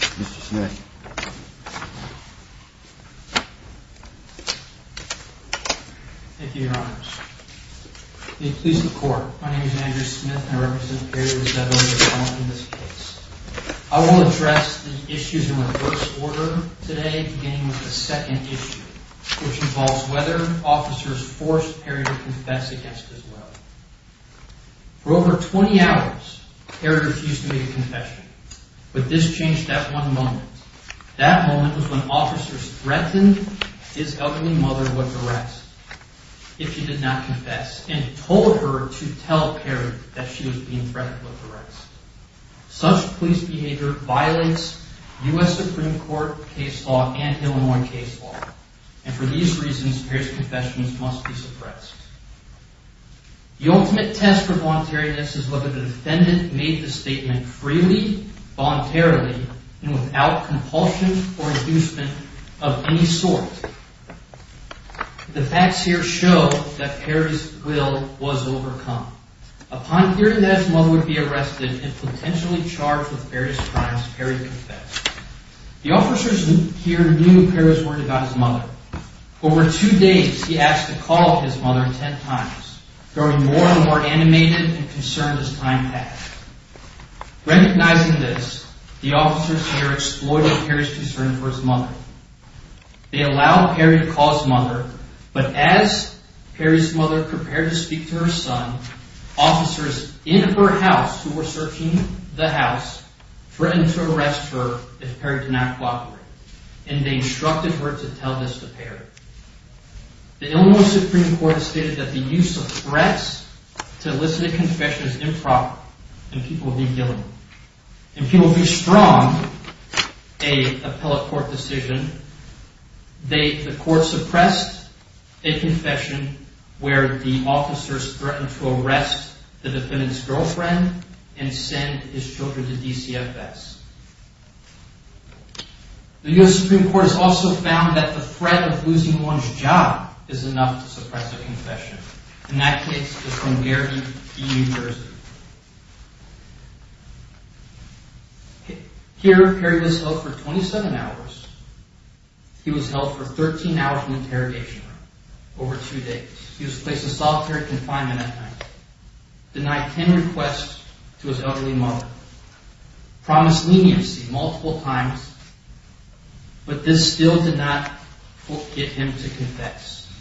Mr. Smith. Thank you, Your Honors. The Ecclesiastical Court, my name is Andrew Smith, and I represent Perry v. Rosetto in this case. I will address the issues in reverse order today, beginning with the second issue, which involves whether officers forced Perry to confess against his will. For over 20 hours, Perry refused to make a confession, but this changed at one moment. That moment was when officers threatened his elderly mother with arrest if she did not confess, and told her to tell Perry that she was being threatened with arrest. Such police behavior violates U.S. Supreme Court case law and Illinois case law, and for these reasons, Perry's confessions must be suppressed. The ultimate test for voluntariness is whether the defendant made the statement freely, voluntarily, and without compulsion or inducement of any sort. The facts here show that Perry's will was overcome. Upon hearing that his mother would be arrested and potentially charged with Perry's crimes, Perry confessed. The officers here knew Perry's word about his mother. Over two days, he asked to call his mother ten times, growing more and more animated and concerned as time passed. Recognizing this, the officers here exploited Perry's concern for his mother. They allowed Perry to call his mother, but as Perry's mother prepared to speak to her son, officers in her house, who were searching the house, threatened to arrest her if Perry did not cooperate, and they instructed her to tell this to Perry. The Illinois Supreme Court has stated that the use of threats to elicit a confession is improper, and people would be guilty. And people would be strong, a appellate court decision. The court suppressed a confession where the officers threatened to arrest the defendant's girlfriend and send his children to DCFS. The U.S. Supreme Court has also found that the threat of losing one's job is enough to suppress a confession, and that case is from Beardy v. New Jersey. Here, Perry was held for 27 hours. He was held for 13 hours in interrogation over two days. He was placed in solitary confinement at night, denied ten requests to his elderly mother, promised leniency multiple times, but this still did not get him to confess.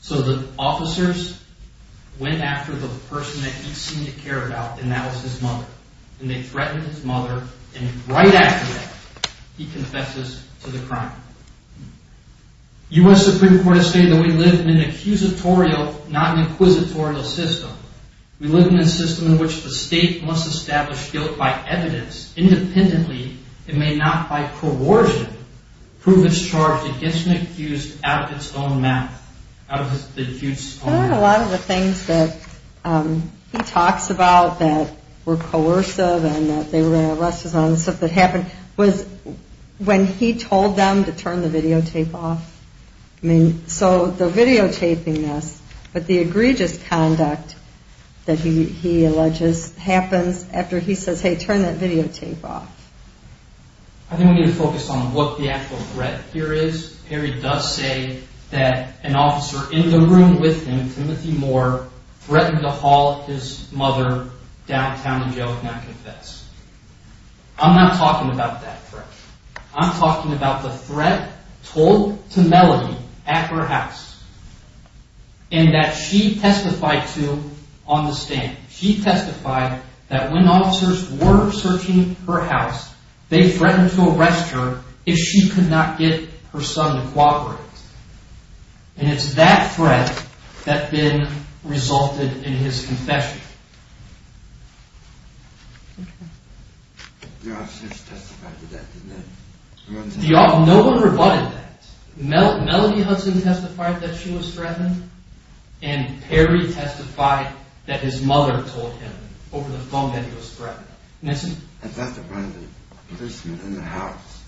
So the officers went after the person that he seemed to care about, and that was his mother, and they threatened his mother, and right after that, he confesses to the crime. U.S. Supreme Court has stated that we live in an accusatorial, not an inquisitorial, system. We live in a system in which the state must establish guilt by evidence independently and may not by coercion prove its charge against an accused out of its own mouth. A lot of the things that he talks about that were coercive and that they were going to arrest us and all that stuff that happened was when he told them to turn the videotape off. So the videotaping this, but the egregious conduct that he alleges happens after he says, hey, turn that videotape off. I think we need to focus on what the actual threat here is. Perry does say that an officer in the room with him, Timothy Moore, threatened to haul his mother downtown to jail if not at her house, and that she testified to on the stand. She testified that when officers were searching her house, they threatened to arrest her if she could not get her son to cooperate, and it's that threat that then resulted in his confession. No one rebutted that. Melody Hudson testified that she was threatened, and Perry testified that his mother told him over the phone that he was threatened. I thought that one of the policemen in the house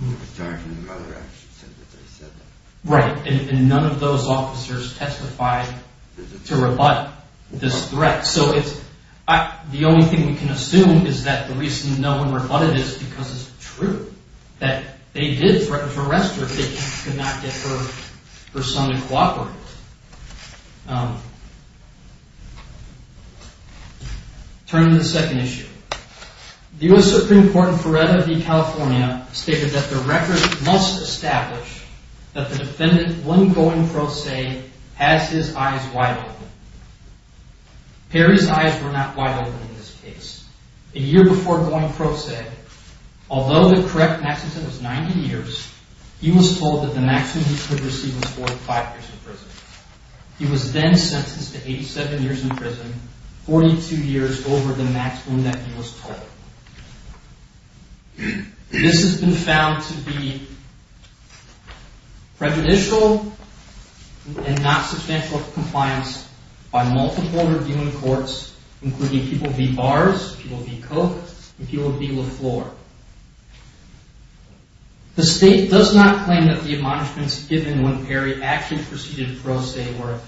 who was charging his mother actually said that they said that. Right, and none of those officers testified to rebut this threat. So the only thing we can assume is that the reason no one rebutted this is because it's true that they did threaten to arrest her if they could not get her son to cooperate. Turning to the second issue, the U.S. Supreme Court in Florida v. California stated that the record must establish that the defendant, when going pro se, has his eyes wide open. Perry's eyes were not wide open in this case. A year before going pro se, although the correct maximum he could receive was 45 years in prison. He was then sentenced to 87 years in prison, 42 years over the maximum that he was told. This has been found to be prejudicial and not substantial compliance by multiple reviewing courts, including people v. Barrs, people v. Koch, and people v. LaFleur. The state does not claim that the admonishments given when Perry actually proceeded pro se were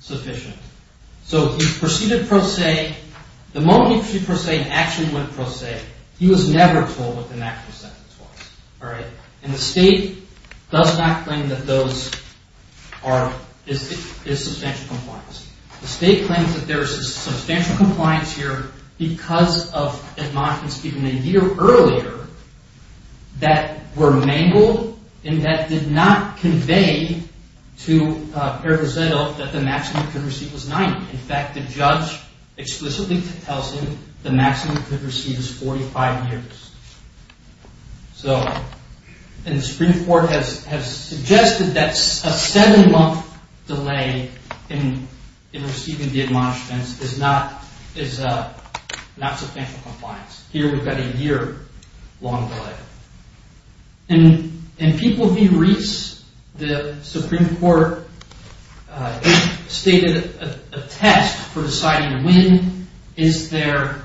sufficient. So he proceeded pro se, the moment he proceeded pro se, he actually went pro se. He was never told what the maximum sentence was. And the state does not claim that those are, is substantial compliance. The state claims that there is substantial compliance here because of admonishments given a year earlier that were mangled and that did not convey to Perry Grisello that the maximum he could receive was 90. In fact, the judge explicitly tells him the maximum he could receive is 45 years. So, and the Supreme Court has suggested that a seven month delay in receiving the admonishments is not substantial compliance. Here we've got a year long delay. In people v. Rees, the Supreme Court stated a test for deciding when is there,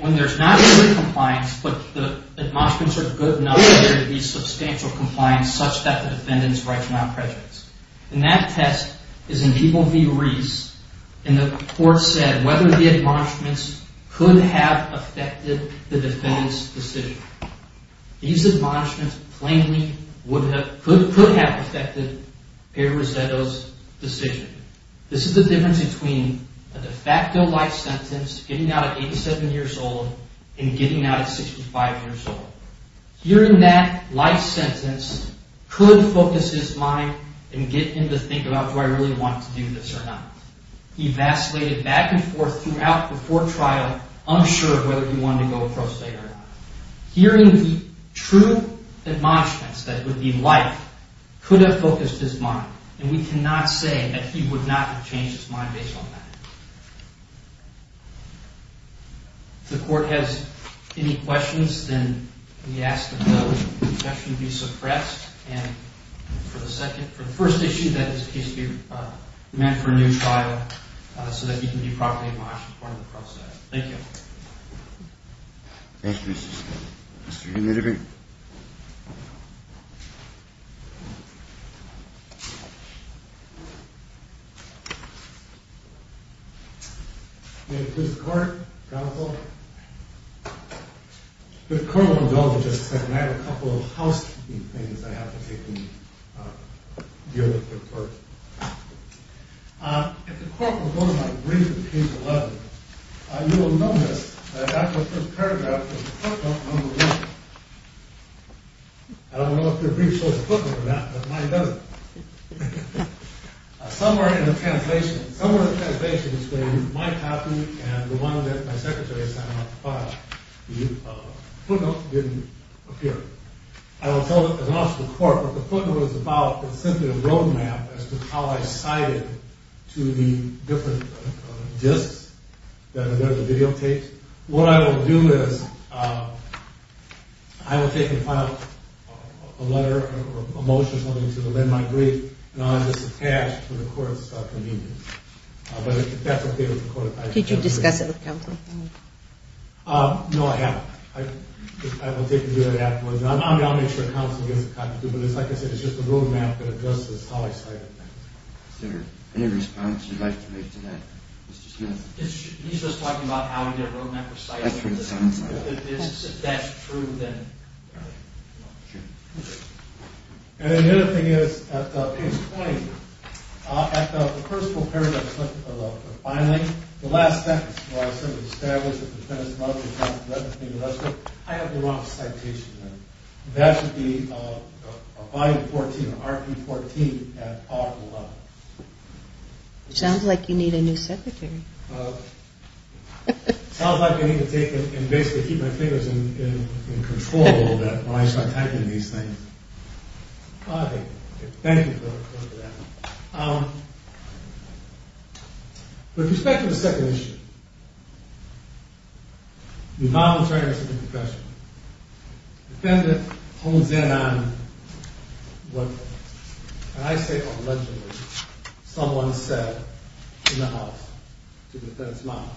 when there's not early compliance but the admonishments are good enough for there to be substantial compliance such that the defendant's right to not prejudice. And that test is in people v. Rees and the court said whether the admonishments could have affected the defendant's decision. These admonishments plainly would have, could have affected Perry Grisello's decision. This is the difference between a de facto life sentence, getting out at 87 years old and getting out at 65 years old. Hearing that life sentence could focus his mind and get him to think about do I really want to do this or not. He vacillated back and forth throughout before trial, unsure of whether he wanted to go pro se or not. Hearing the true admonishments that would be life could have focused his mind and we cannot say that he would not have changed his mind based on that. If the court has any questions then we ask that the objection be suppressed and for the first issue that is a case to be met for a new trial so that he can be properly admonished as part of the process. Thank you. Thank you Mr. Skidmore. Mr. Hennedy. May it please the court, counsel. If the court will go to my brief in page 11, you will notice that after the first paragraph there is a footnote on the left. I don't know if your brief shows a footnote or not but mine doesn't. Somewhere in the translation, somewhere in the translation is where my copy and the one that my secretary signed off the file. The footnote didn't appear. I will tell the court what the footnote is about. It's simply a road map as to how I cited to the different disks that are there, the videotapes. What I will do is I will take and file a letter or a motion wanting to amend my brief and I'll have this attached to the court's convenience. But that's okay with the court. Did you discuss it with counsel? No, I haven't. I will take and do that afterwards. I'll make sure counsel gives a copy to me. But it's like I said, it's just a road map that addresses how I cited things. Is there any response you'd like to make to that, Mr. Smith? He's just talking about how your road map was cited. If that's true, then... And the other thing is, at this point, at the personal paragraph of the filing, the last sentence where I sort of establish that the defendant's mother was not directly arrested, I have the wrong citation there. That should be a volume 14, an RP 14 at R11. Sounds like you need a new secretary. Sounds like I need to take and basically keep my fingers in control a little bit when I start typing these things. Thank you for that. With respect to the second issue, the involuntary arrest of the professional, the defendant hones in on what I say allegedly someone said in the house to the defendant's mom.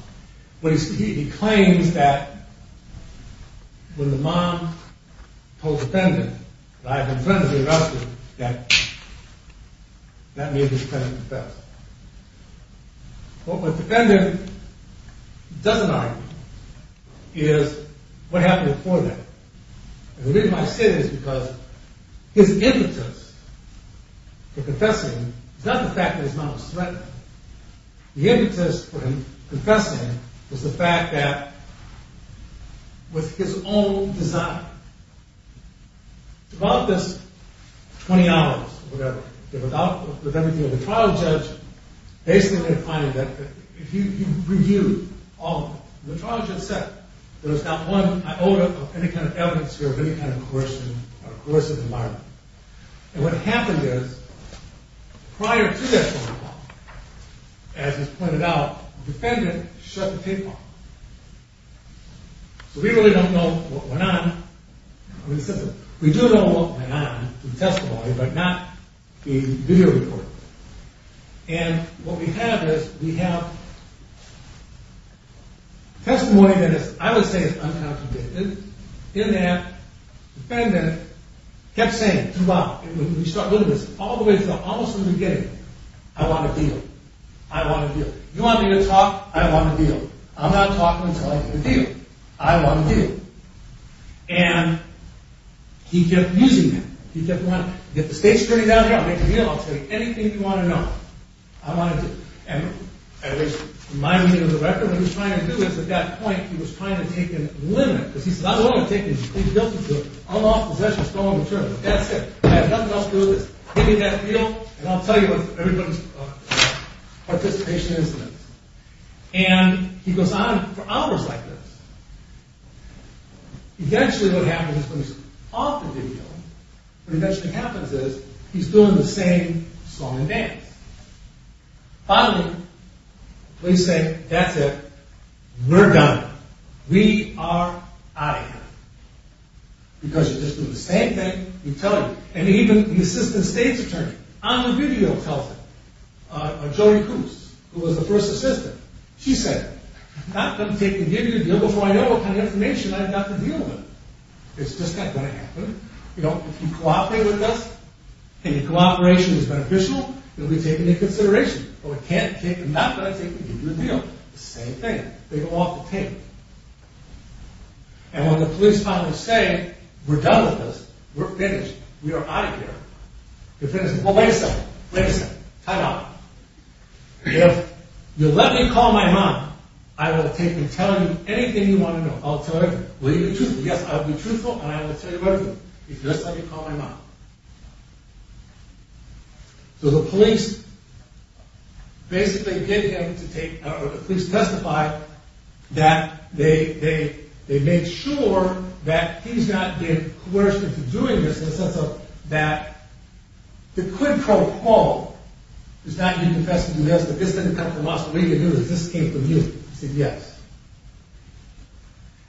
He claims that when the mom told the defendant that I had been threatened to be arrested, that made the defendant confess. What the defendant doesn't argue is what happened before that. The reason I say that is because his impetus for confessing is not the fact that his mom was threatened. The impetus for him confessing was the fact that it was his own design. Throughout this 20 hours or whatever, the trial judge basically defined it. He reviewed all of it. The trial judge said there was not one iota of any kind of evidence here of any kind of coercion or coercive environment. And what happened is, prior to that phone call, as is pointed out, the defendant shut the tape off. So we really don't know what went on. We do know what went on in the testimony, but not the video report. And what we have is, we have testimony that I would say is unconvicted. In that, the defendant kept saying throughout, when we started looking at this, all the way through, almost from the beginning, I want a deal. I want a deal. You want me to talk? I want a deal. I'm not talking until I get a deal. I want a deal. And he kept using that. He kept going, get the state's attorney down here. I'll make a deal. I'll tell you anything you want to know. I want a deal. And at least in my view of the record, what he was trying to do is, at that point, he was trying to take a limit. Because he said, I don't want to take a complete guilty deal. I'm in possession of a stolen material. That's it. I have nothing else to do with this. Give me that deal, and I'll tell you what everybody's participation is in it. And he goes on for hours like this. Eventually, what happens when he's off the video, what eventually happens is, he's doing the same song and dance. Finally, police say, that's it. We're done. We are out of here. Because you're just doing the same thing we tell you. And even the assistant state's attorney, on the video tells it. Jodi Coos, who was the first assistant. She said, I'm not going to take a guilty deal before I know what kind of information I've got to deal with. It's just not going to happen. If you cooperate with us, and your cooperation is beneficial, you'll be taken into consideration. But we can't take a not going to take a guilty deal. Same thing. They go off the tape. And when the police finally say, we're done with this. We're finished. We are out of here. Your friend says, well, wait a second. Wait a second. Time out. If you let me call my mom, I will take and tell you anything you want to know. I'll tell her, will you be truthful? Yes, I will be truthful, and I will tell you everything. Just let me call my mom. So the police basically get him to take, or the police testify, that they made sure that he's not being coerced into doing this, in the sense that they could proclaim, it's not you confessed to doing this, but this didn't come from us. What we can do is this came from you. He said, yes.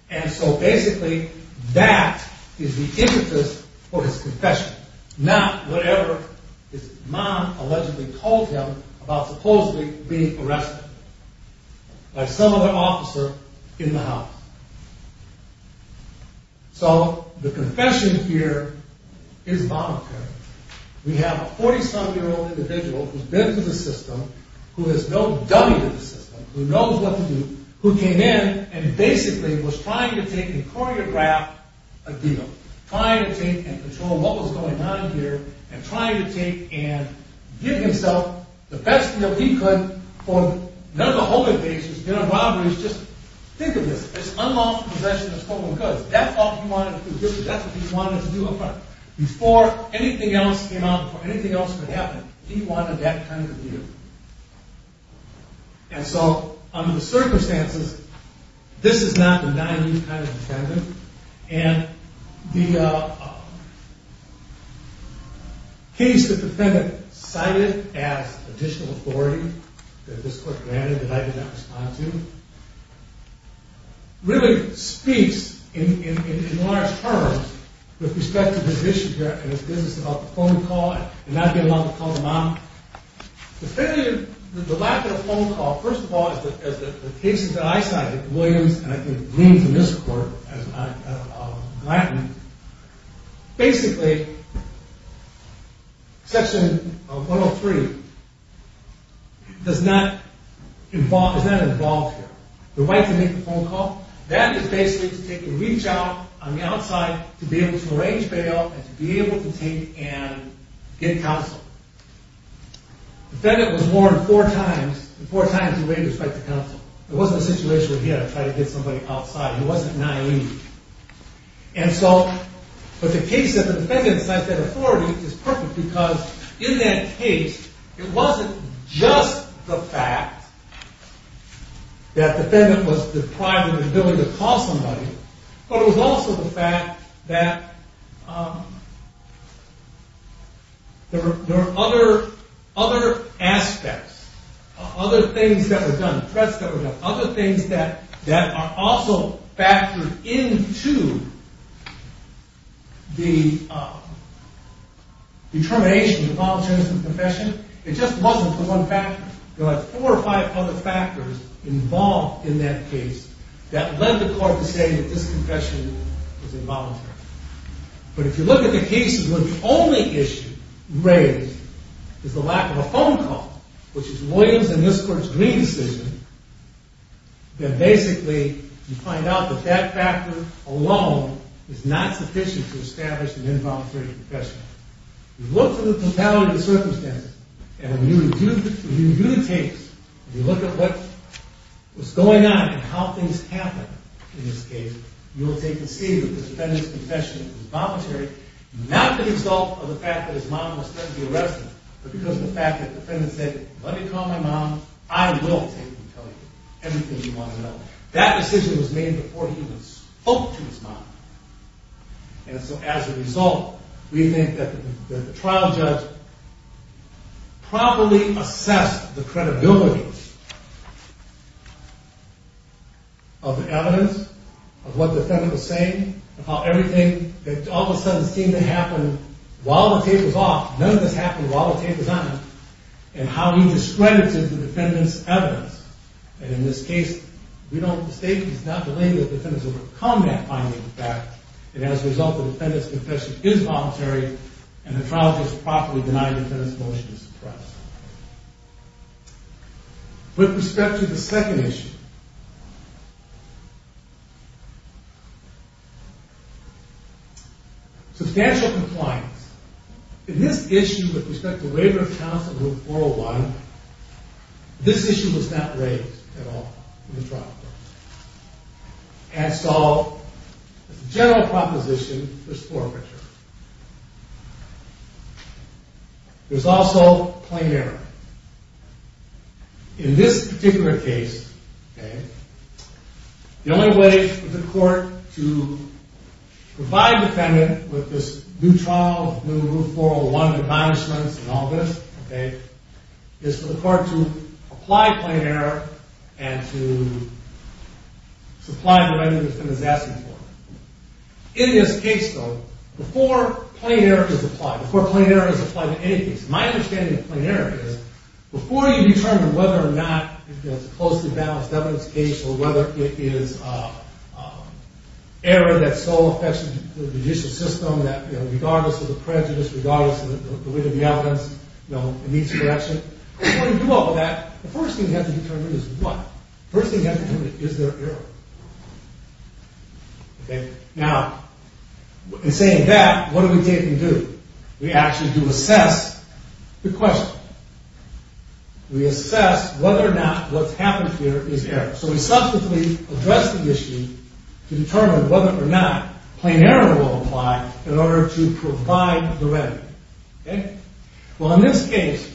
And so basically, that is the interest of his confession, not whatever his mom allegedly told him about supposedly being arrested by some other officer in the house. So the confession here is voluntary. We have a 47-year-old individual who's been through the system, who has no doubt in the system, who knows what to do, who came in and basically was trying to take and choreograph a deal, trying to take and control what was going on here, and trying to take and give himself the best deal he could for none of the holding bases, dinner boundaries. Just think of this. It's unlawful possession of stolen goods. That's all he wanted to do. That's what he wanted to do up front. Before anything else came out, before anything else could happen, he wanted that kind of deal. And so under the circumstances, this is not the naive kind of defendant, and the case the defendant cited as additional authority that this court granted that I did not respond to really speaks in large terms with respect to his issue here and his business about the phone call and not being allowed to call the mom. The lack of a phone call, first of all, as the cases that I cited, Williams and I think Williams and this court, as I'm gladdened, basically Section 103 is not involved here. The right to make a phone call, that is basically to take a reach out on the outside to be able to arrange bail and to be able to take and get counsel. The defendant was warned four times, and four times he raised his right to counsel. It wasn't a situation where he had to try to get somebody outside. He wasn't naive. And so the case that the defendant cited as authority is perfect because in that case, it wasn't just the fact that the defendant was deprived of the ability to call somebody, but it was also the fact that there were other aspects, other things that were done, threats that were done, other things that are also factored into the determination of voluntary confession. It just wasn't the one factor. There were four or five other factors involved in that case that led the court to say that this confession was involuntary. But if you look at the cases where the only issue raised is the lack of a phone call, which is Williams and this court's green decision, then basically you find out that that factor alone is not sufficient to establish an involuntary confession. You look at the totality of the circumstances, and when you review the tapes and you look at what was going on and how things happened in this case, you will take to see that this defendant's confession was voluntary, not the result of the fact that his mom was sent to be arrested, but because of the fact that the defendant said, let me call my mom, I will take and tell you everything you want to know. That decision was made before he even spoke to his mom. And so as a result, we think that the trial judge properly assessed the credibility of the evidence, of what the defendant was saying, of how everything that all of a sudden seemed to happen while the tape was off, none of this happened while the tape was on, and how he discredited the defendant's evidence. And in this case, we don't state, he's not delaying that the defendant has overcome that finding of fact, and as a result, the defendant's confession is voluntary, and the trial judge properly denied the defendant's motion to suppress. With respect to the second issue. Substantial compliance. In this issue, with respect to waiver of counsel, Rule 401, this issue was not raised at all in the trial court. And so, the general proposition was forfeiture. There's also plain error. In this particular case, the only way for the court to provide the defendant with this new trial, new Rule 401, new punishments, and all this, is for the court to apply plain error and to supply the remedy the defendant is asking for. In this case, though, before plain error is applied, before plain error is applied to any case, my understanding of plain error is, before you determine whether or not it's a closely balanced evidence case, or whether it is error that's so affectionate to the judicial system that regardless of the prejudice, regardless of the weight of the evidence, it needs correction, before you do all of that, the first thing you have to determine is what? The first thing you have to determine is, is there error? Now, in saying that, what do we do? We actually do assess the question. We assess whether or not what's happened here is error. So we subsequently address the issue to determine whether or not plain error will apply in order to provide the remedy. Okay? Well, in this case,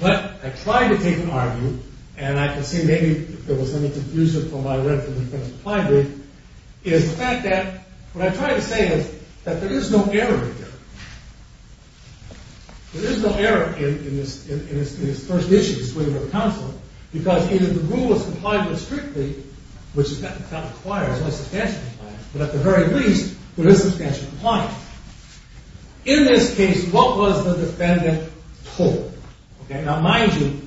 what I tried to take and argue, and I can see maybe there was any confusion from my read from the defendant's reply brief, is the fact that what I'm trying to say is that there is no error here. There is no error in this first issue, because either the rule is complied with strictly, which is not required, it's only substantially compliant, but at the very least, there is substantial compliance. In this case, what was the defendant told? Okay? Now, mind you,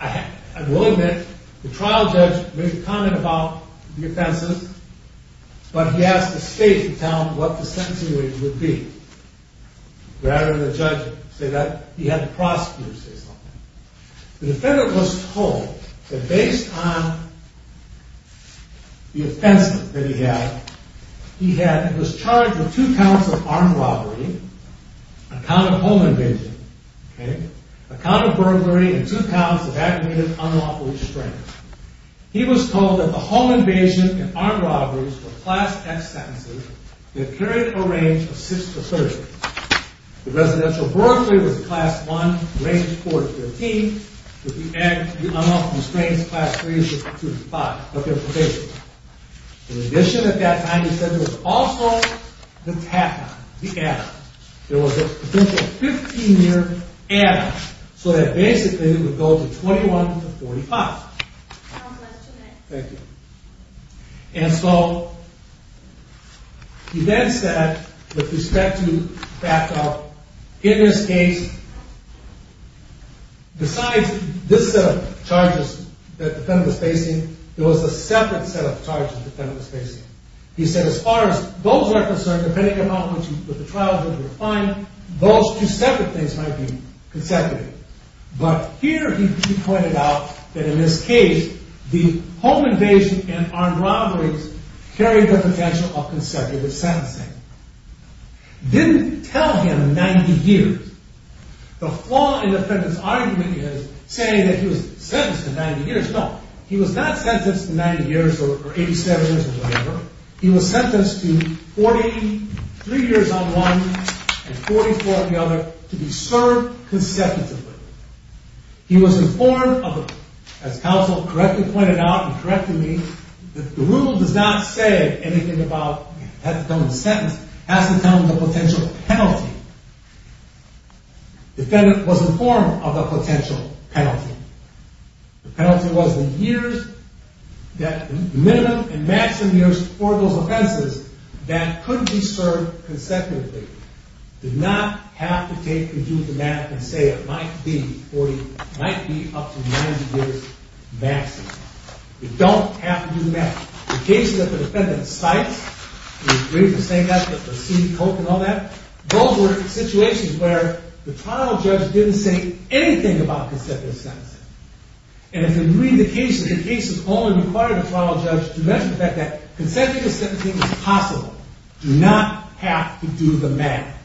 I will admit, the trial judge made a comment about the offenses, but he asked the state to tell him what the sentencing rate would be. Rather than the judge say that, he had the prosecutor say something. The defendant was told that based on the offenses that he had, he was charged with two counts of armed robbery, a count of home invasion, a count of burglary, and two counts of aggravated unlawful restraint. He was told that the home invasion and armed robberies were Class X sentences that carried a range of six to 30. The residential burglary was Class I, range four to 15, with the aggravated unlawful restraints, Class III to 35, of their probation. In addition at that time, he said there was also the TAP, the add-on. There was a potential 15-year add-on, so that basically, it would go to 21 to 45. Thank you. And so, he then said, with respect to back up, in this case, besides this set of charges that the defendant was facing, there was a separate set of charges the defendant was facing. He said as far as those were concerned, depending on how much of the trial he would find, those two separate things might be consecutive. But here he pointed out that in this case, the home invasion and armed robberies carried the potential of consecutive sentencing. Didn't tell him 90 years. The flaw in the defendant's argument is to say that he was sentenced to 90 years. No. He was not sentenced to 90 years or 87 years or whatever. He was sentenced to 43 years on one and 44 on the other to be served consecutively. He was informed of, as counsel correctly pointed out and corrected me, the rule does not say anything about it has to come in a sentence. It has to come in the potential penalty. The defendant was informed of the potential penalty. The penalty was the years, the minimum and maximum years for those offenses that could be served consecutively. Did not have to take and do the math and say it might be 40, it might be up to 90 years maximum. It don't have to do the math. The case that the defendant cites, we agreed to say that, the receipt, coke and all that, those were situations where the trial judge didn't say anything about consecutive sentencing. And if you read the cases, the cases only required the trial judge to mention the fact that consecutive sentencing is possible. Do not have to do the math.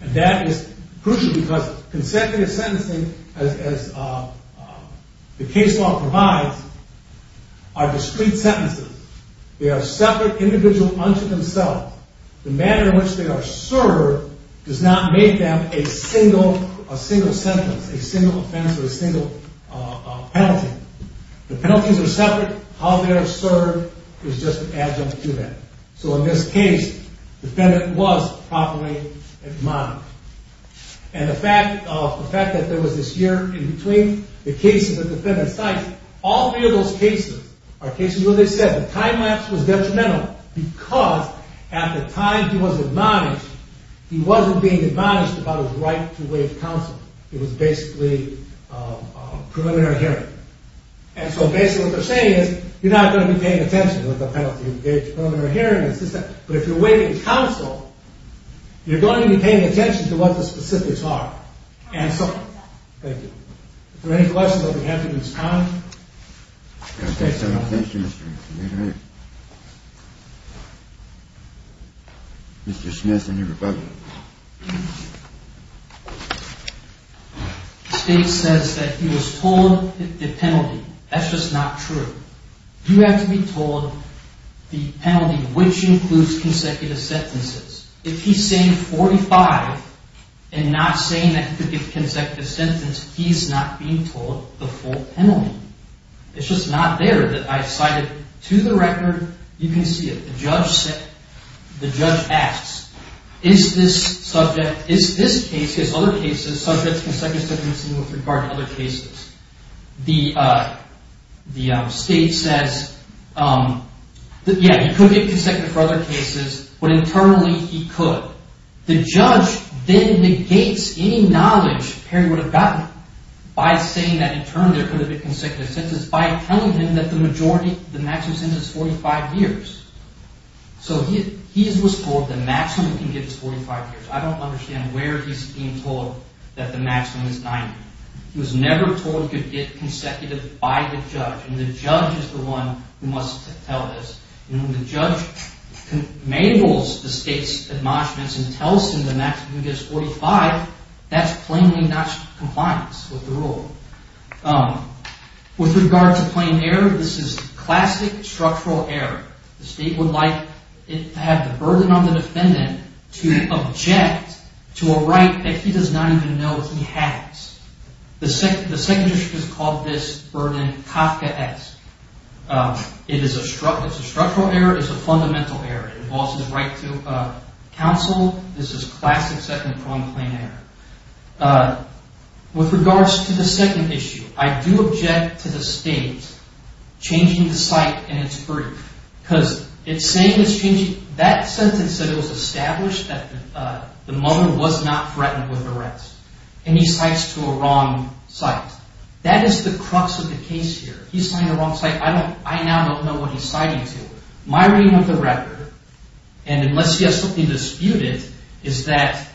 And that is crucial because consecutive sentencing, as the case law provides, are discrete sentences. They are separate, individual unto themselves. The manner in which they are served does not make them a single sentence, a single offense or a single penalty. The penalties are separate. How they are served is just an adjunct to that. So in this case, the defendant was properly monitored. And the fact that there was this year in between the cases that the defendant cites, all three of those cases are cases where they said the time lapse was detrimental because at the time he was admonished, he wasn't being admonished about his right to waive counsel. It was basically preliminary hearing. And so basically what they're saying is you're not going to be paying attention with the penalty of preliminary hearing. But if you're waiving counsel, you're going to be paying attention to what the specifics are and so on. Thank you. If there are any questions, I'll be happy to respond. Mr. Smith and your rebuttal. The state says that he was told the penalty. That's just not true. You have to be told the penalty which includes consecutive sentences. If he's saying 45 and not saying that he could get consecutive sentences, he's not being told the full penalty. It's just not there. I cited to the record, you can see it. The judge asks, is this subject, is this case, is other cases subject to consecutive sentences with regard to other cases? The state says, yeah, he could get consecutive for other cases, but internally he could. The judge then negates any knowledge Perry would have gotten by saying that in turn there could have been consecutive sentences by telling him that the majority, the maximum sentence is 45 years. So he was told the maximum he can get is 45 years. I don't understand where he's being told that the maximum is 90. He was never told he could get consecutive by the judge and the judge is the one who must tell this. When the judge enables the state's admonishments and tells him the maximum he can get is 45, that's plainly not compliance with the rule. With regard to plain error, this is classic structural error. The state would like to have the burden on the defendant to object to a right that he does not even know he has. The second issue is called this burden Kafka-esque. It is a structural error. It's a fundamental error. It involves his right to counsel. This is classic second-pronged plain error. With regards to the second issue, I do object to the state changing the site in its brief because it's saying it's changing. That sentence said it was established that the mother was not threatened with arrest. And he cites to a wrong site. That is the crux of the case here. He's saying a wrong site. I now don't know what he's citing to. My reading of the record, and unless you have something disputed, is that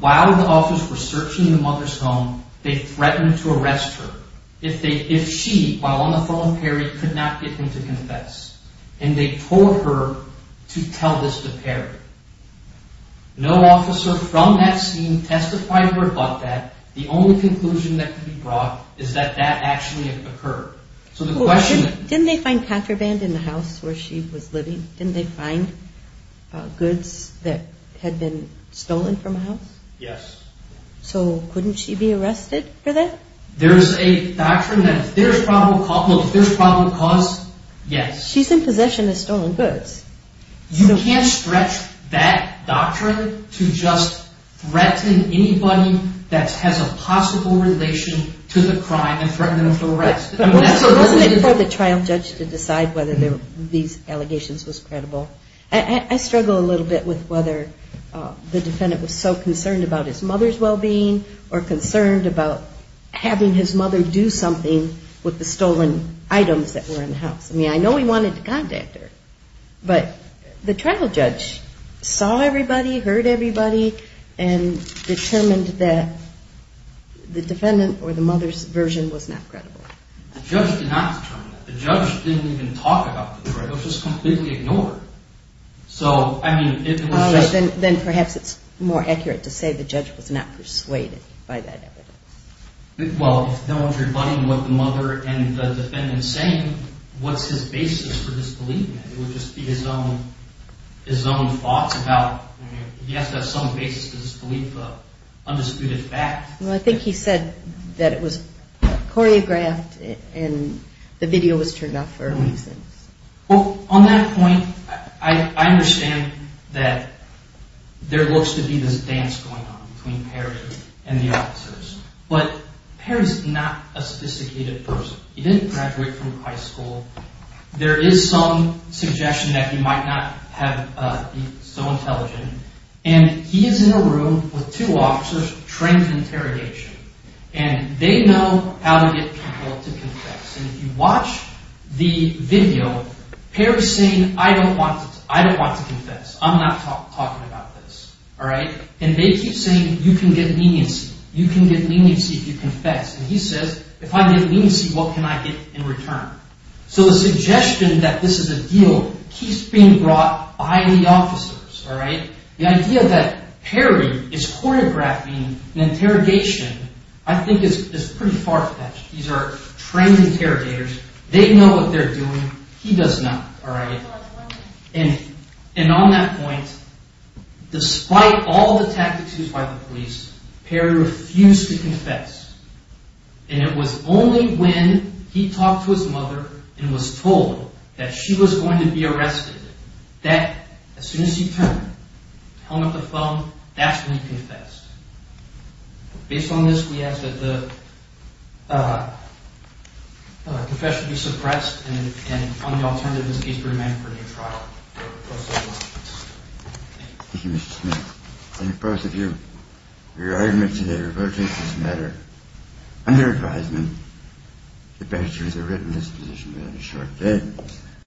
while the officers were searching the mother's home, they threatened to arrest her if she, while on the phone with Perry, could not get him to confess. And they told her to tell this to Perry. No officer from that scene testified to her but that. The only conclusion that could be brought is that that actually occurred. So the question... Didn't they find contraband in the house where she was living? Didn't they find goods that had been stolen from a house? Yes. So couldn't she be arrested for that? There's a doctrine that if there's probable cause, yes. She's in possession of stolen goods. You can't stretch that doctrine to just threaten anybody that has a possible relation to the crime and threaten them for arrest. Wasn't it for the trial judge to decide whether these allegations was credible? I struggle a little bit with whether the defendant was so concerned about his mother's well-being or concerned about having his mother do something with the stolen items that were in the house. I mean, I know he wanted to contact her, but the trial judge saw everybody, heard everybody, and determined that the defendant or the mother's version was not credible. The judge did not determine that. The judge didn't even talk about the threat. It was just completely ignored. So, I mean, it was just... Then perhaps it's more accurate to say the judge was not persuaded by that evidence. Well, if that was rebutting what the mother and the defendant said, I mean, what's his basis for disbelieving it? It would just be his own thoughts about... He has to have some basis to disbelieve the undisputed fact. Well, I think he said that it was choreographed and the video was turned off for a reason. Well, on that point, I understand that there looks to be this dance going on between Perry and the officers, but Perry's not a sophisticated person. He didn't graduate from high school. There is some suggestion that he might not be so intelligent, and he is in a room with two officers, trained in interrogation, and they know how to get people to confess. And if you watch the video, Perry's saying, I don't want to confess. I'm not talking about this. And they keep saying, you can get leniency. You can get leniency if you confess. And he says, if I get leniency, what can I get in return? So the suggestion that this is a deal keeps being brought by the officers. The idea that Perry is choreographing an interrogation I think is pretty far-fetched. These are trained interrogators. They know what they're doing. He does not. And on that point, despite all the tactics used by the police, Perry refused to confess. And it was only when he talked to his mother and was told that she was going to be arrested that, as soon as he turned, held up the phone, that's when he confessed. Based on this, we ask that the confession be suppressed and on the alternative, this case be remanded for a new trial. Thank you. Thank you, Mr. Smith. I think both of you, your arguments today were about this matter. Under advisement, the bench was arraigned in this position within a short period of time.